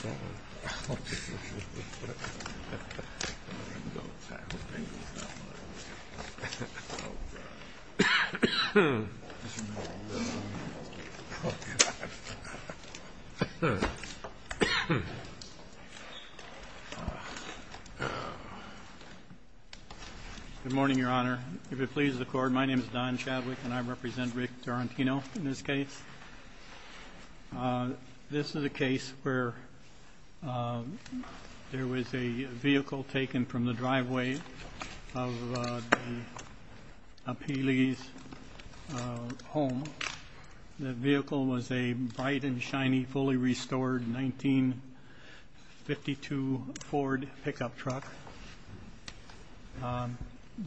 Good morning, your honor. If it pleases the court, my name is Don Chadwick and I represent Rick Tarantino in this case. This is a case where there was a vehicle taken from the driveway of a Pele's home. The vehicle was a bright and shiny, fully restored 1952 Ford pickup truck.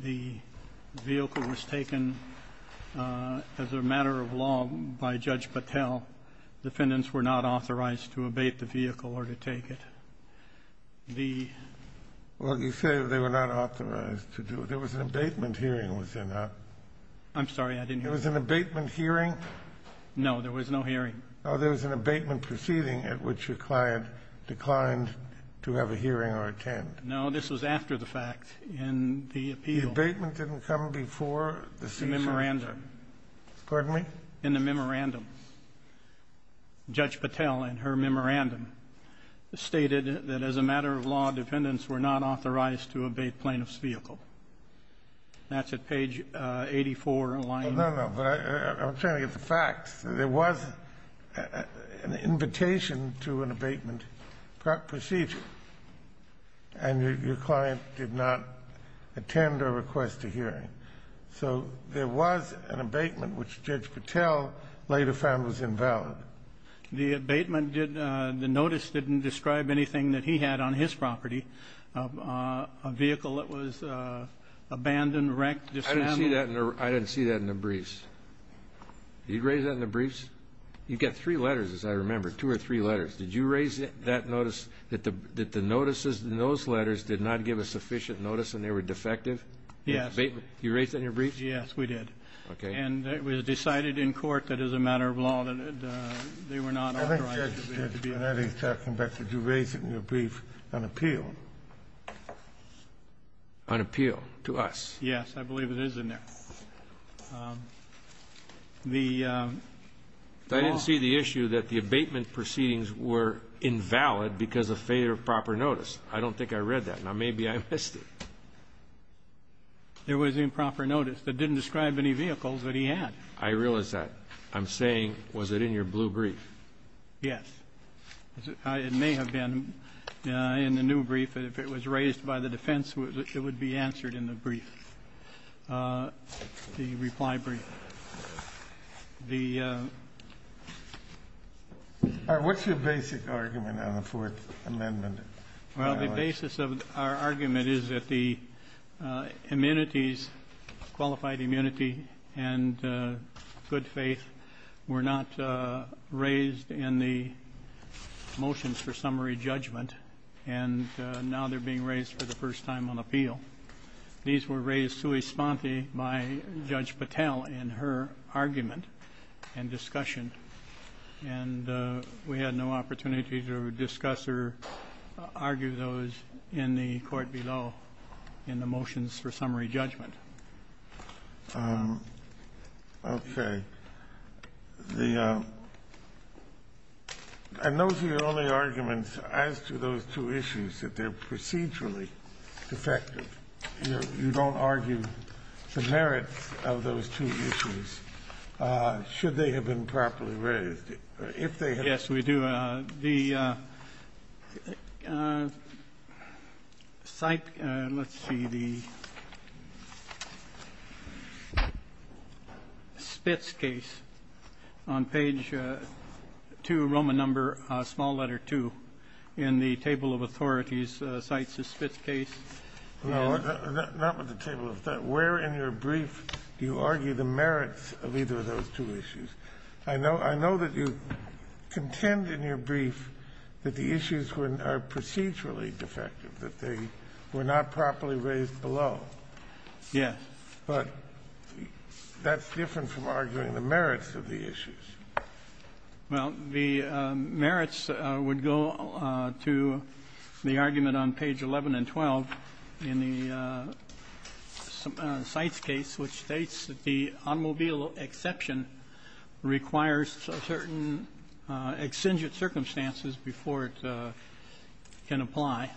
The vehicle was taken as a matter of law by Judge Patel. Defendants were not authorized to abate the vehicle or to take it. The... Well, you say they were not authorized to do it. There was an abatement hearing within that. I'm sorry, I didn't hear. There was an abatement hearing? No, there was no hearing. Oh, there was an abatement proceeding at which your client declined to have a hearing or attend. No, this was after the fact in the appeal. The abatement didn't come before the seizure? In the memorandum. Pardon me? In the memorandum. Judge Patel, in her memorandum, stated that as a matter of law, defendants were not authorized to abate plaintiff's vehicle. That's at page 84, line... No, no, but I'm trying to get the facts. There was an invitation to an abatement procedure, and your client did not attend or request a hearing. So there was an abatement, which Judge Patel later found was invalid. The abatement didn't the notice didn't describe anything that he had on his property, a vehicle that was abandoned, wrecked, dismantled. I didn't see that in the briefs. Did you raise that in the briefs? You've got three letters, as I remember, two or three letters. Did you raise that notice that the notices in those letters did not give a sufficient notice and they were defective? Yes. You raised that in your briefs? Yes, we did. Okay. And it was decided in court that as a matter of law that they were not authorized to be abated. I think Judge Panetti is talking about did you raise it in your brief on appeal? On appeal to us? Yes, I believe it is in there. I didn't see the issue that the abatement proceedings were invalid because of failure of proper notice. I don't think I read that. Now, maybe I missed it. There was improper notice that didn't describe any vehicles that he had. I realize that. I'm saying was it in your blue brief? Yes. It may have been in the new brief. If it was raised by the defense, it would be answered in the brief, the reply brief. What's your basic argument on the Fourth Amendment? Well, the basis of our argument is that the immunities, qualified immunity and good faith, were not raised in the motions for summary judgment, and now they're being raised for the first time on appeal. These were raised sui sponte by Judge Patel in her argument and discussion, and we had no opportunity to discuss or argue those in the court below in the motions for summary judgment. Okay. And those are your only arguments as to those two issues, that they're procedurally defective. You don't argue the merits of those two issues. Should they have been properly raised? If they had. Yes, we do. The site, let's see, the Spitz case on page 2, Roman number, small letter 2, in the table of authorities cites a Spitz case. No, not with the table of authorities. Where in your brief do you argue the merits of either of those two issues? I know that you contend in your brief that the issues are procedurally defective, that they were not properly raised below. Yes. But that's different from arguing the merits of the issues. Well, the merits would go to the argument on page 11 and 12 in the cites case, which states that the automobile exception requires certain exigent circumstances before it can apply.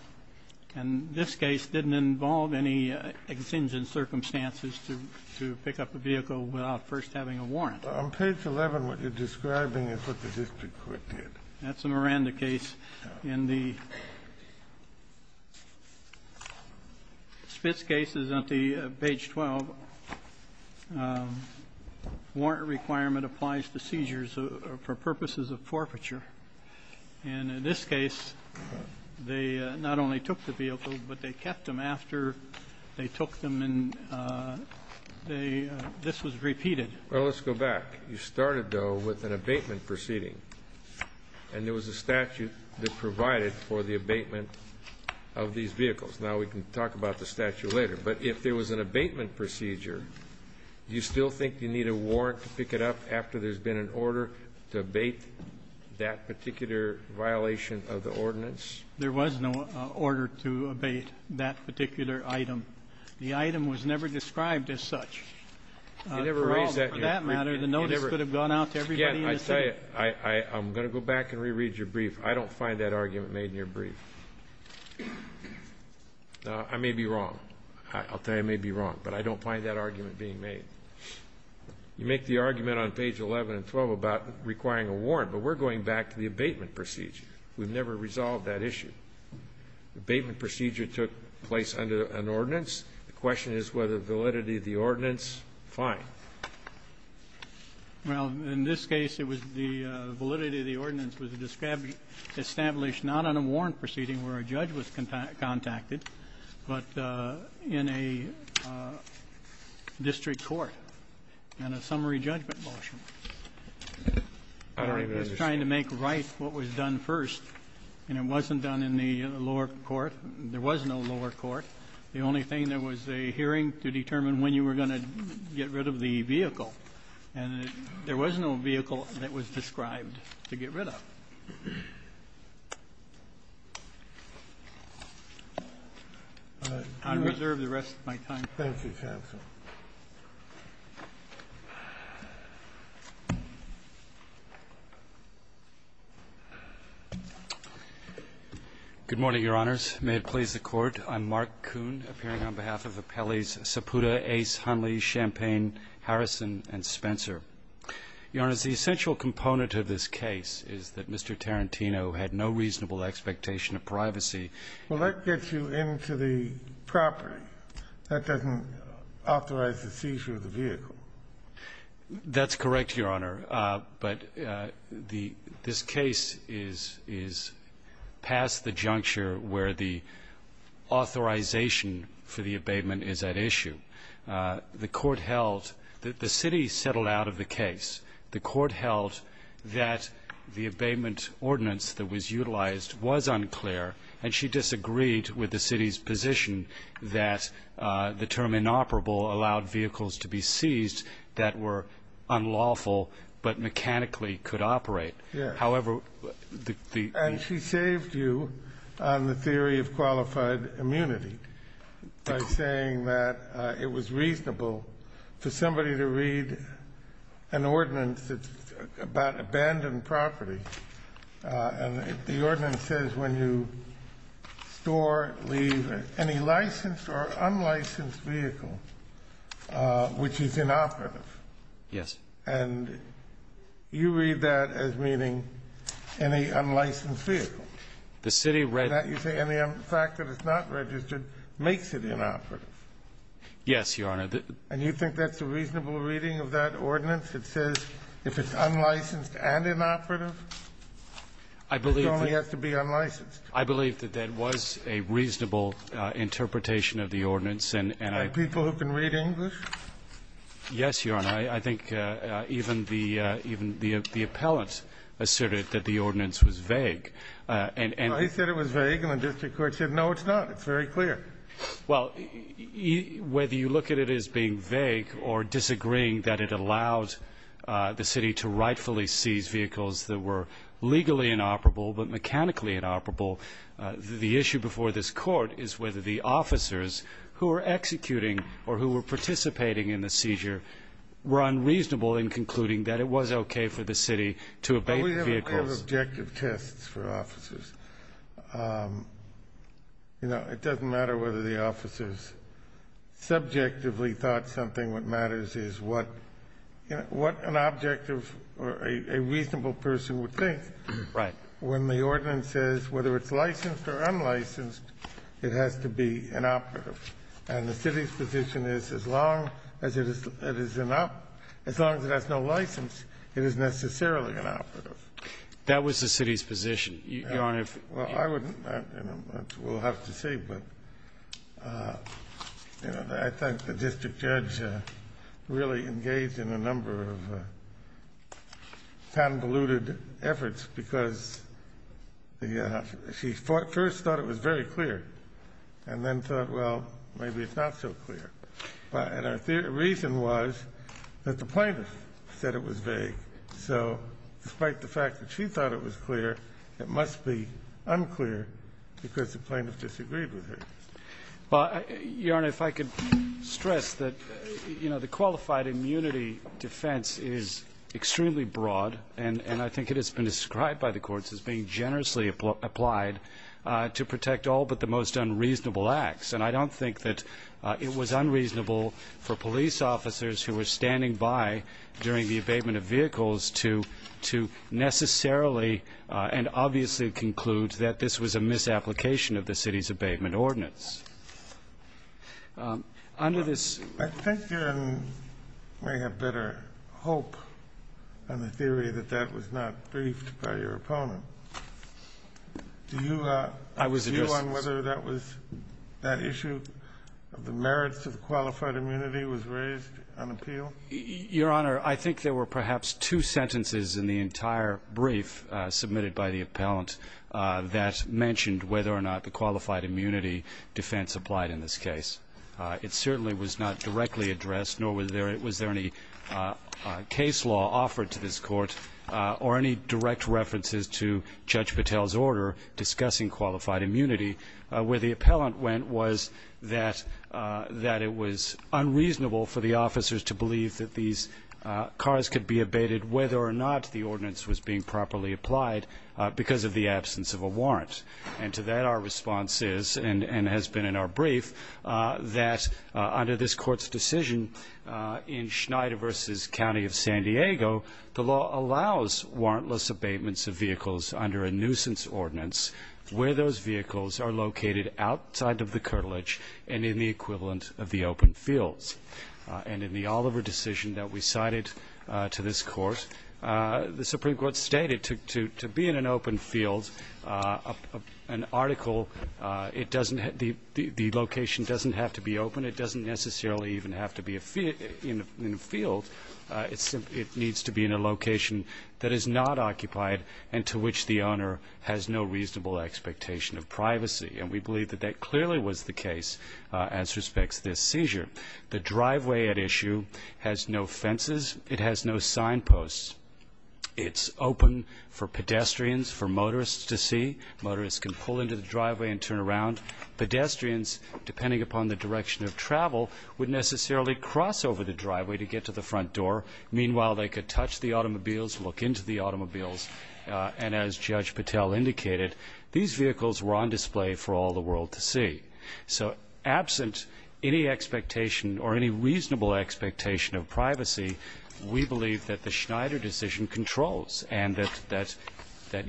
And this case didn't involve any exigent circumstances to pick up a vehicle without first having a warrant. On page 11, what you're describing is what the district court did. That's a Miranda case. In the Spitz cases on page 12, warrant requirement applies to seizures for purposes of forfeiture. And in this case, they not only took the vehicle, but they kept them after they took them. And this was repeated. Well, let's go back. You started, though, with an abatement proceeding. And there was a statute that provided for the abatement of these vehicles. Now we can talk about the statute later. But if there was an abatement procedure, do you still think you need a warrant to pick it up after there's been an order to abate that particular violation of the ordinance? There was no order to abate that particular item. The item was never described as such. You never raised that here. For all, for that matter, the notice could have gone out to everybody in the city. Again, I tell you, I'm going to go back and reread your brief. I don't find that argument made in your brief. I may be wrong. I'll tell you I may be wrong. But I don't find that argument being made. You make the argument on page 11 and 12 about requiring a warrant. But we're going back to the abatement procedure. We've never resolved that issue. The abatement procedure took place under an ordinance. The question is whether validity of the ordinance. Fine. Well, in this case, it was the validity of the ordinance was established not on a warrant proceeding where a judge was contacted, but in a district court and a summary judgment motion. I don't even understand. It was trying to make right what was done first. And it wasn't done in the lower court. There was no lower court. The only thing, there was a hearing to determine when you were going to get rid of the vehicle. And there was no vehicle that was described to get rid of. I reserve the rest of my time. Thank you, counsel. May it please the Court. I'm Mark Kuhn, appearing on behalf of Appellees Saputa, Ace, Hunley, Champaign, Harrison, and Spencer. Your Honor, the essential component of this case is that Mr. Tarantino had no reasonable expectation of privacy. Well, that gets you into the property. That doesn't authorize the seizure of the vehicle. That's correct, Your Honor. But this case is past the juncture where the authorization for the abatement is at issue. The court held that the city settled out of the case. The court held that the abatement ordinance that was utilized was unclear, and she disagreed with the city's position that the term inoperable allowed vehicles to be seized that were unlawful but mechanically could operate. However, the ---- And she saved you on the theory of qualified immunity by saying that it was reasonable for somebody to read an ordinance that's about abandoned property. And the ordinance says when you store, leave, any licensed or unlicensed vehicle which is inoperative. Yes. And you read that as meaning any unlicensed vehicle. The city ---- You say any fact that it's not registered makes it inoperative. Yes, Your Honor. And you think that's a reasonable reading of that ordinance? It says if it's unlicensed and inoperative, it only has to be unlicensed. I believe that that was a reasonable interpretation of the ordinance. And I ---- By people who can read English? Yes, Your Honor. I think even the ---- even the appellant asserted that the ordinance was vague. And ---- Well, he said it was vague, and the district court said, no, it's not. It's very clear. Well, whether you look at it as being vague or disagreeing that it allows the city to rightfully seize vehicles that were legally inoperable but mechanically inoperable, the issue before this court is whether the officers who were executing or who were participating in the seizure were unreasonable in concluding that it was okay for the city to abate the vehicles. We have objective tests for officers. You know, it doesn't matter whether the officers subjectively thought something. What matters is what an objective or a reasonable person would think. Right. When the ordinance says whether it's licensed or unlicensed, it has to be inoperative. And the city's position is as long as it is inoperative, as long as it has no license, it is necessarily inoperative. That was the city's position, Your Honor. Well, I wouldn't know. We'll have to see. But, you know, I think the district judge really engaged in a number of convoluted efforts because she first thought it was very clear and then thought, well, maybe it's not so clear. And her reason was that the plaintiff said it was vague. So despite the fact that she thought it was clear, it must be unclear because the plaintiff disagreed with her. Well, Your Honor, if I could stress that, you know, the qualified immunity defense is extremely broad, and I think it has been described by the courts as being generously applied to protect all but the most unreasonable acts. And I don't think that it was unreasonable for police officers who were standing by during the abatement of vehicles to necessarily and obviously conclude that this was a misapplication of the city's abatement ordinance. Under this ---- I think you may have better hope on the theory that that was not briefed by your opponent. Do you ---- I was just ---- Your Honor, I think there were perhaps two sentences in the entire brief submitted by the appellant that mentioned whether or not the qualified immunity defense applied in this case. It certainly was not directly addressed, nor was there any case law offered to this court or any direct references to Judge Patel's order discussing qualified immunity. Where the appellant went was that it was unreasonable for the officers to believe that these cars could be abated whether or not the ordinance was being properly applied because of the absence of a warrant. And to that our response is, and has been in our brief, that under this Court's decision in Schneider v. County of San Diego, the law allows warrantless abatements of vehicles under a nuisance ordinance where those vehicles are located outside of the curtilage and in the equivalent of the open fields. And in the Oliver decision that we cited to this Court, the Supreme Court stated to be in an open field, an article, it doesn't ---- the location doesn't have to be open. It doesn't necessarily even have to be in a field. It needs to be in a location that is not occupied and to which the owner has no reasonable expectation of privacy. And we believe that that clearly was the case as respects to this seizure. The driveway at issue has no fences. It has no signposts. It's open for pedestrians, for motorists to see. Motorists can pull into the driveway and turn around. Pedestrians, depending upon the direction of travel, would necessarily cross over the driveway to get to the front door. Meanwhile, they could touch the automobiles, look into the automobiles. And as Judge Patel indicated, these vehicles were on display for all the world to see. So absent any expectation or any reasonable expectation of privacy, we believe that the Schneider decision controls and that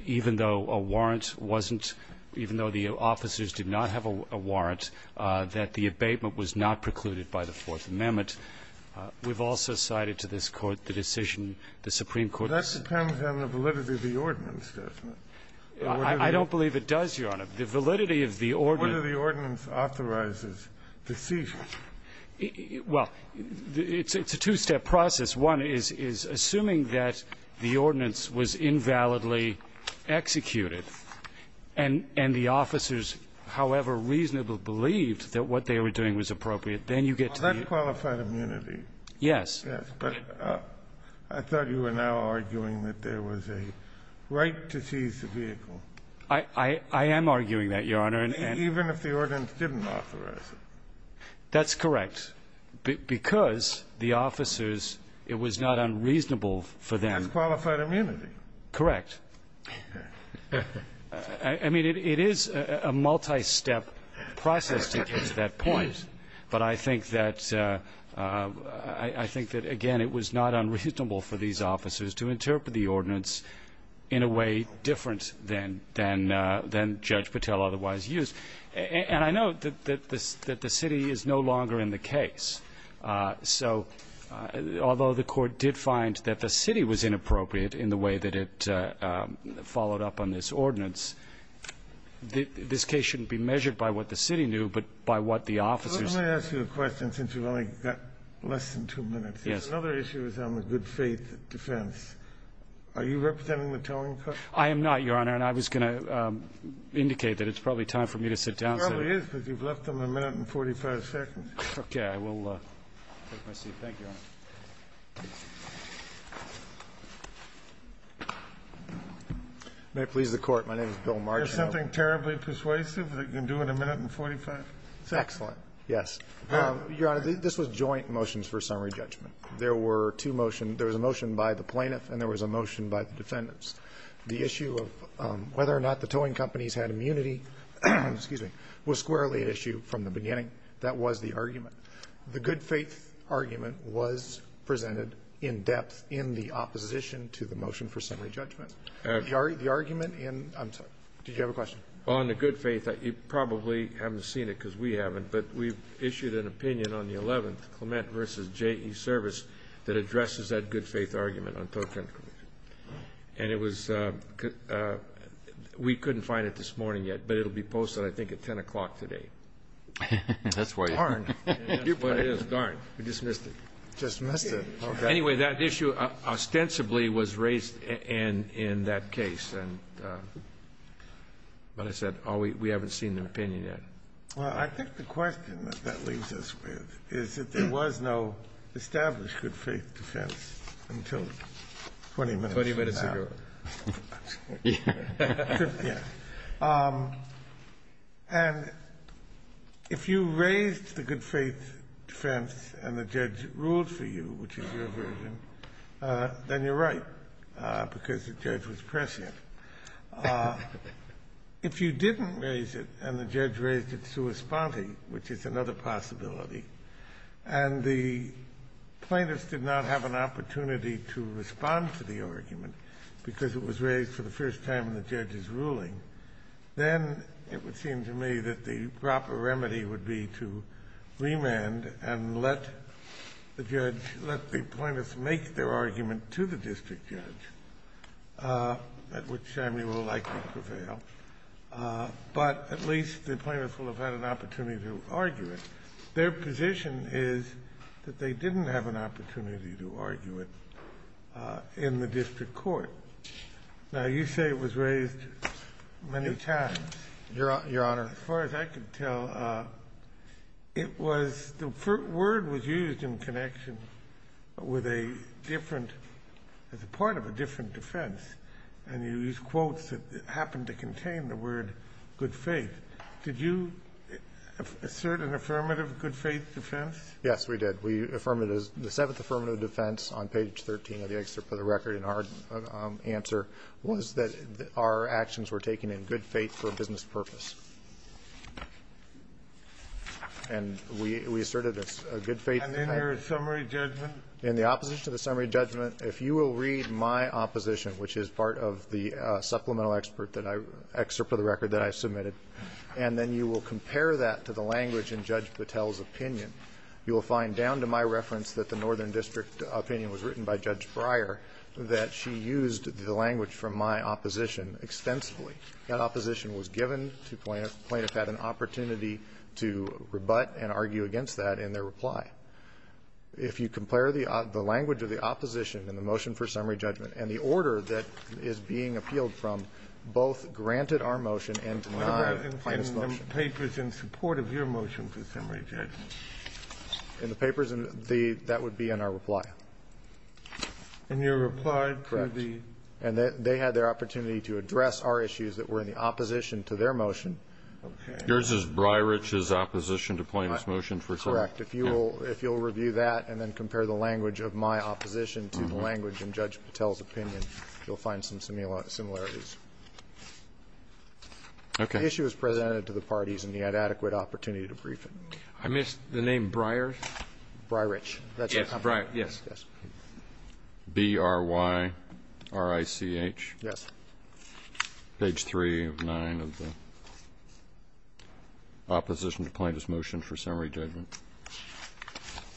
even though a warrant wasn't warrant, even though the officers did not have a warrant, that the abatement was not precluded by the Fourth Amendment, we've also cited to this Court the decision the Supreme Court ---- Kennedy. That depends on the validity of the ordinance, doesn't it? I don't believe it does, Your Honor. The validity of the ordinance ---- Whether the ordinance authorizes the seizure. Well, it's a two-step process. One is assuming that the ordinance was invalidly executed and the officers, however reasonable, believed that what they were doing was appropriate. Then you get to the ---- Well, that qualified immunity. Yes. Yes. But I thought you were now arguing that there was a right to seize the vehicle. I am arguing that, Your Honor. Even if the ordinance didn't authorize it. That's correct. Because the officers, it was not unreasonable for them ---- It has qualified immunity. Correct. I mean, it is a multi-step process to get to that point. But I think that, again, it was not unreasonable for these officers to interpret the ordinance in a way different than Judge Patel otherwise used. And I know that the city is no longer in the case. So although the Court did find that the city was inappropriate in the way that it followed up on this ordinance, this case shouldn't be measured by what the city knew, but by what the officers ---- Let me ask you a question since we've only got less than two minutes. Yes. Another issue is on the good faith defense. Are you representing the towing company? I am not, Your Honor. Your Honor, I was going to indicate that it's probably time for me to sit down. It probably is, but you've left them a minute and 45 seconds. Okay. I will take my seat. Thank you, Your Honor. May it please the Court. My name is Bill Marginal. Is there something terribly persuasive that you can do in a minute and 45? It's excellent. Yes. Your Honor, this was joint motions for summary judgment. There were two motions. There was a motion by the plaintiff and there was a motion by the defendants. The issue of whether or not the towing companies had immunity, excuse me, was squarely an issue from the beginning. That was the argument. The good faith argument was presented in depth in the opposition to the motion for summary judgment. The argument in ---- I'm sorry. Did you have a question? On the good faith, you probably haven't seen it because we haven't, but we've issued an opinion on the 11th, Clement v. J.E. Service, that addresses that good faith argument on towing companies. And it was ---- we couldn't find it this morning yet, but it will be posted I think at 10 o'clock today. Darn. That's what it is. Darn. We dismissed it. Dismissed it. Anyway, that issue ostensibly was raised in that case. But I said, oh, we haven't seen the opinion yet. Well, I think the question that that leaves us with is that there was no established good faith defense until 20 minutes ago. 20 minutes ago. Yeah. And if you raised the good faith defense and the judge ruled for you, which is your version, then you're right because the judge was prescient. If you didn't raise it and the judge raised it sua sponte, which is another possibility, and the plaintiffs did not have an opportunity to respond to the argument because it was raised for the first time in the judge's ruling, then it would seem to me that the proper remedy would be to remand and let the judge, let the plaintiffs make their argument to the district judge, at which time you will likely prevail. But at least the plaintiffs will have had an opportunity to argue it. Their position is that they didn't have an opportunity to argue it in the district court. Now, you say it was raised many times. Your Honor. As far as I can tell, it was the word was used in connection with a different part of a different defense. And you used quotes that happened to contain the word good faith. Did you assert an affirmative good faith defense? Yes, we did. We affirmed it as the seventh affirmative defense on page 13 of the excerpt for the record. And our answer was that our actions were taken in good faith for a business purpose. And we asserted a good faith defense. And in your summary judgment? In the opposition to the summary judgment, if you will read my opposition, which is part of the supplemental excerpt for the record that I submitted, and then you will compare that to the language in Judge Patel's opinion, you will find down to my reference that the Northern District opinion was written by Judge Breyer, that she used the language from my opposition extensively. That opposition was given to plaintiffs, plaintiffs had an opportunity to rebut and argue against that in their reply. If you compare the language of the opposition in the motion for summary judgment and the order that is being appealed from, both granted our motion and to my plaintiffs' motion. And the papers in support of your motion for summary judgment? In the papers, that would be in our reply. And your reply to the ---- Correct. And they had their opportunity to address our issues that were in the opposition to their motion. Okay. Yours is Breyerich's opposition to Plaintiff's motion, for sure? Correct. If you will review that and then compare the language of my opposition to the language in Judge Patel's opinion, you will find some similarities. Okay. The issue was presented to the parties and he had adequate opportunity to brief it. I missed the name Breyer? Breyerich. Yes. Breyerich, yes. B-r-y-r-i-c-h. Yes. Page 3 of 9 of the opposition to Plaintiff's motion for summary judgment.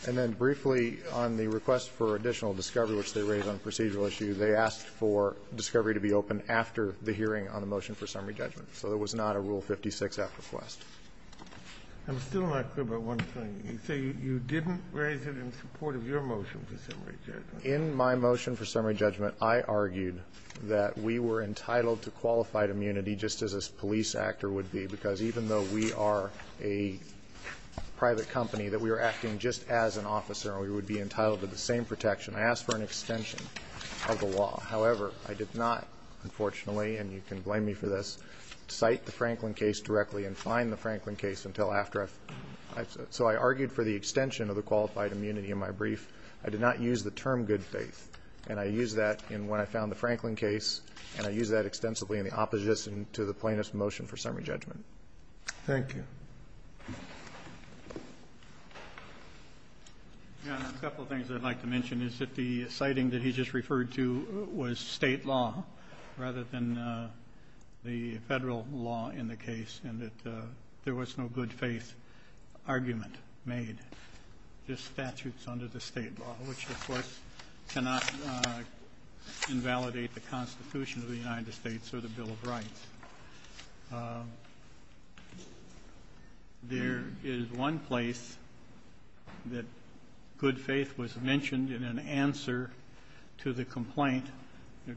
And then briefly on the request for additional discovery, which they raised on a procedural issue, they asked for discovery to be opened after the hearing on the motion for summary judgment. So there was not a Rule 56-F request. I'm still not clear about one thing. You say you didn't raise it in support of your motion for summary judgment. In my motion for summary judgment, I argued that we were entitled to qualified immunity just as a police actor would be, because even though we are a private company, that we are acting just as an officer and we would be entitled to the same protection. I asked for an extension of the law. However, I did not, unfortunately, and you can blame me for this, cite the Franklin case directly and find the Franklin case until after I've. So I argued for the extension of the qualified immunity in my brief. I did not use the term good faith. And I used that in when I found the Franklin case, and I used that extensively in the opposition to the Plaintiff's motion for summary judgment. Thank you. A couple of things I'd like to mention is that the citing that he just referred to was State law rather than the Federal law in the case, and that there was no good faith law, which, of course, cannot invalidate the Constitution of the United States or the Bill of Rights. There is one place that good faith was mentioned in an answer to the complaint,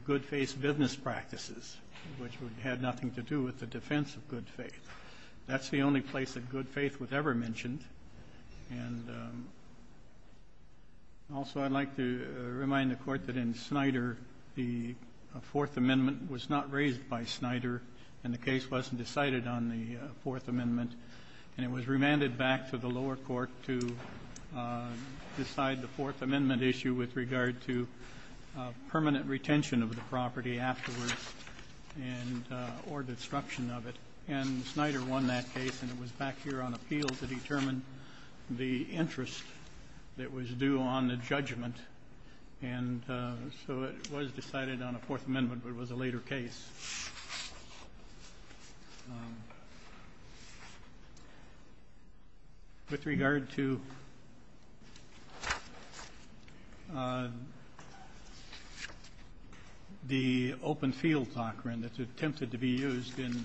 good faith business practices, which had nothing to do with the defense of good faith. That's the only place that good faith was ever mentioned. And also, I'd like to remind the Court that in Snyder, the Fourth Amendment was not raised by Snyder, and the case wasn't decided on the Fourth Amendment, and it was remanded back to the lower court to decide the Fourth Amendment issue with regard to permanent retention of the property afterwards and or disruption of it. And Snyder won that case, and it was back here on appeal to determine the interest that was due on the judgment. And so it was decided on the Fourth Amendment, but it was a later case. With regard to the open field doctrine that's attempted to be used in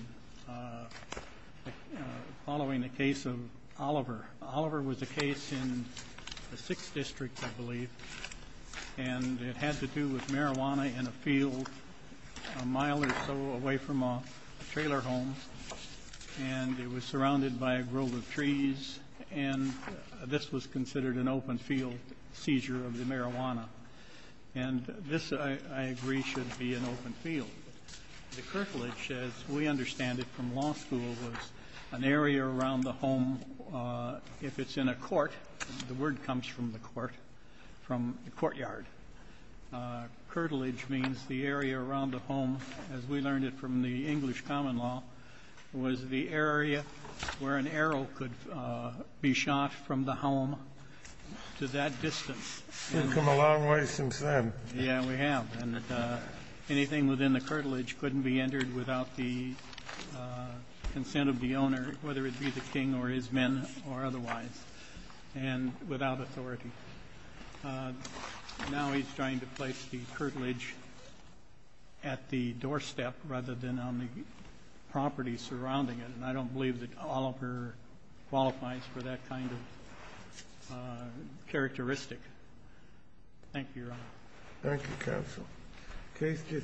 following the case of Oliver, Oliver was a case in the 6th District, I believe, and it had to do with marijuana in a field a mile or so away from a trailer home, and it was surrounded by a grove of trees, and this was considered an open field seizure of the marijuana. And this, I agree, should be an open field. The curtilage, as we understand it from law school, was an area around the home. If it's in a court, the word comes from the court, from the courtyard. Curtilage means the area around the home, as we learned it from the English common law, was the area where an arrow could be shot from the home to that distance. We've come a long way since then. Yeah, we have. And anything within the curtilage couldn't be entered without the consent of the owner, whether it be the king or his men or otherwise, and without authority. Now he's trying to place the curtilage at the doorstep rather than on the property surrounding it, and I don't believe that Oliver qualifies for that kind of characteristic. Thank you, Your Honor. Thank you, Counsel.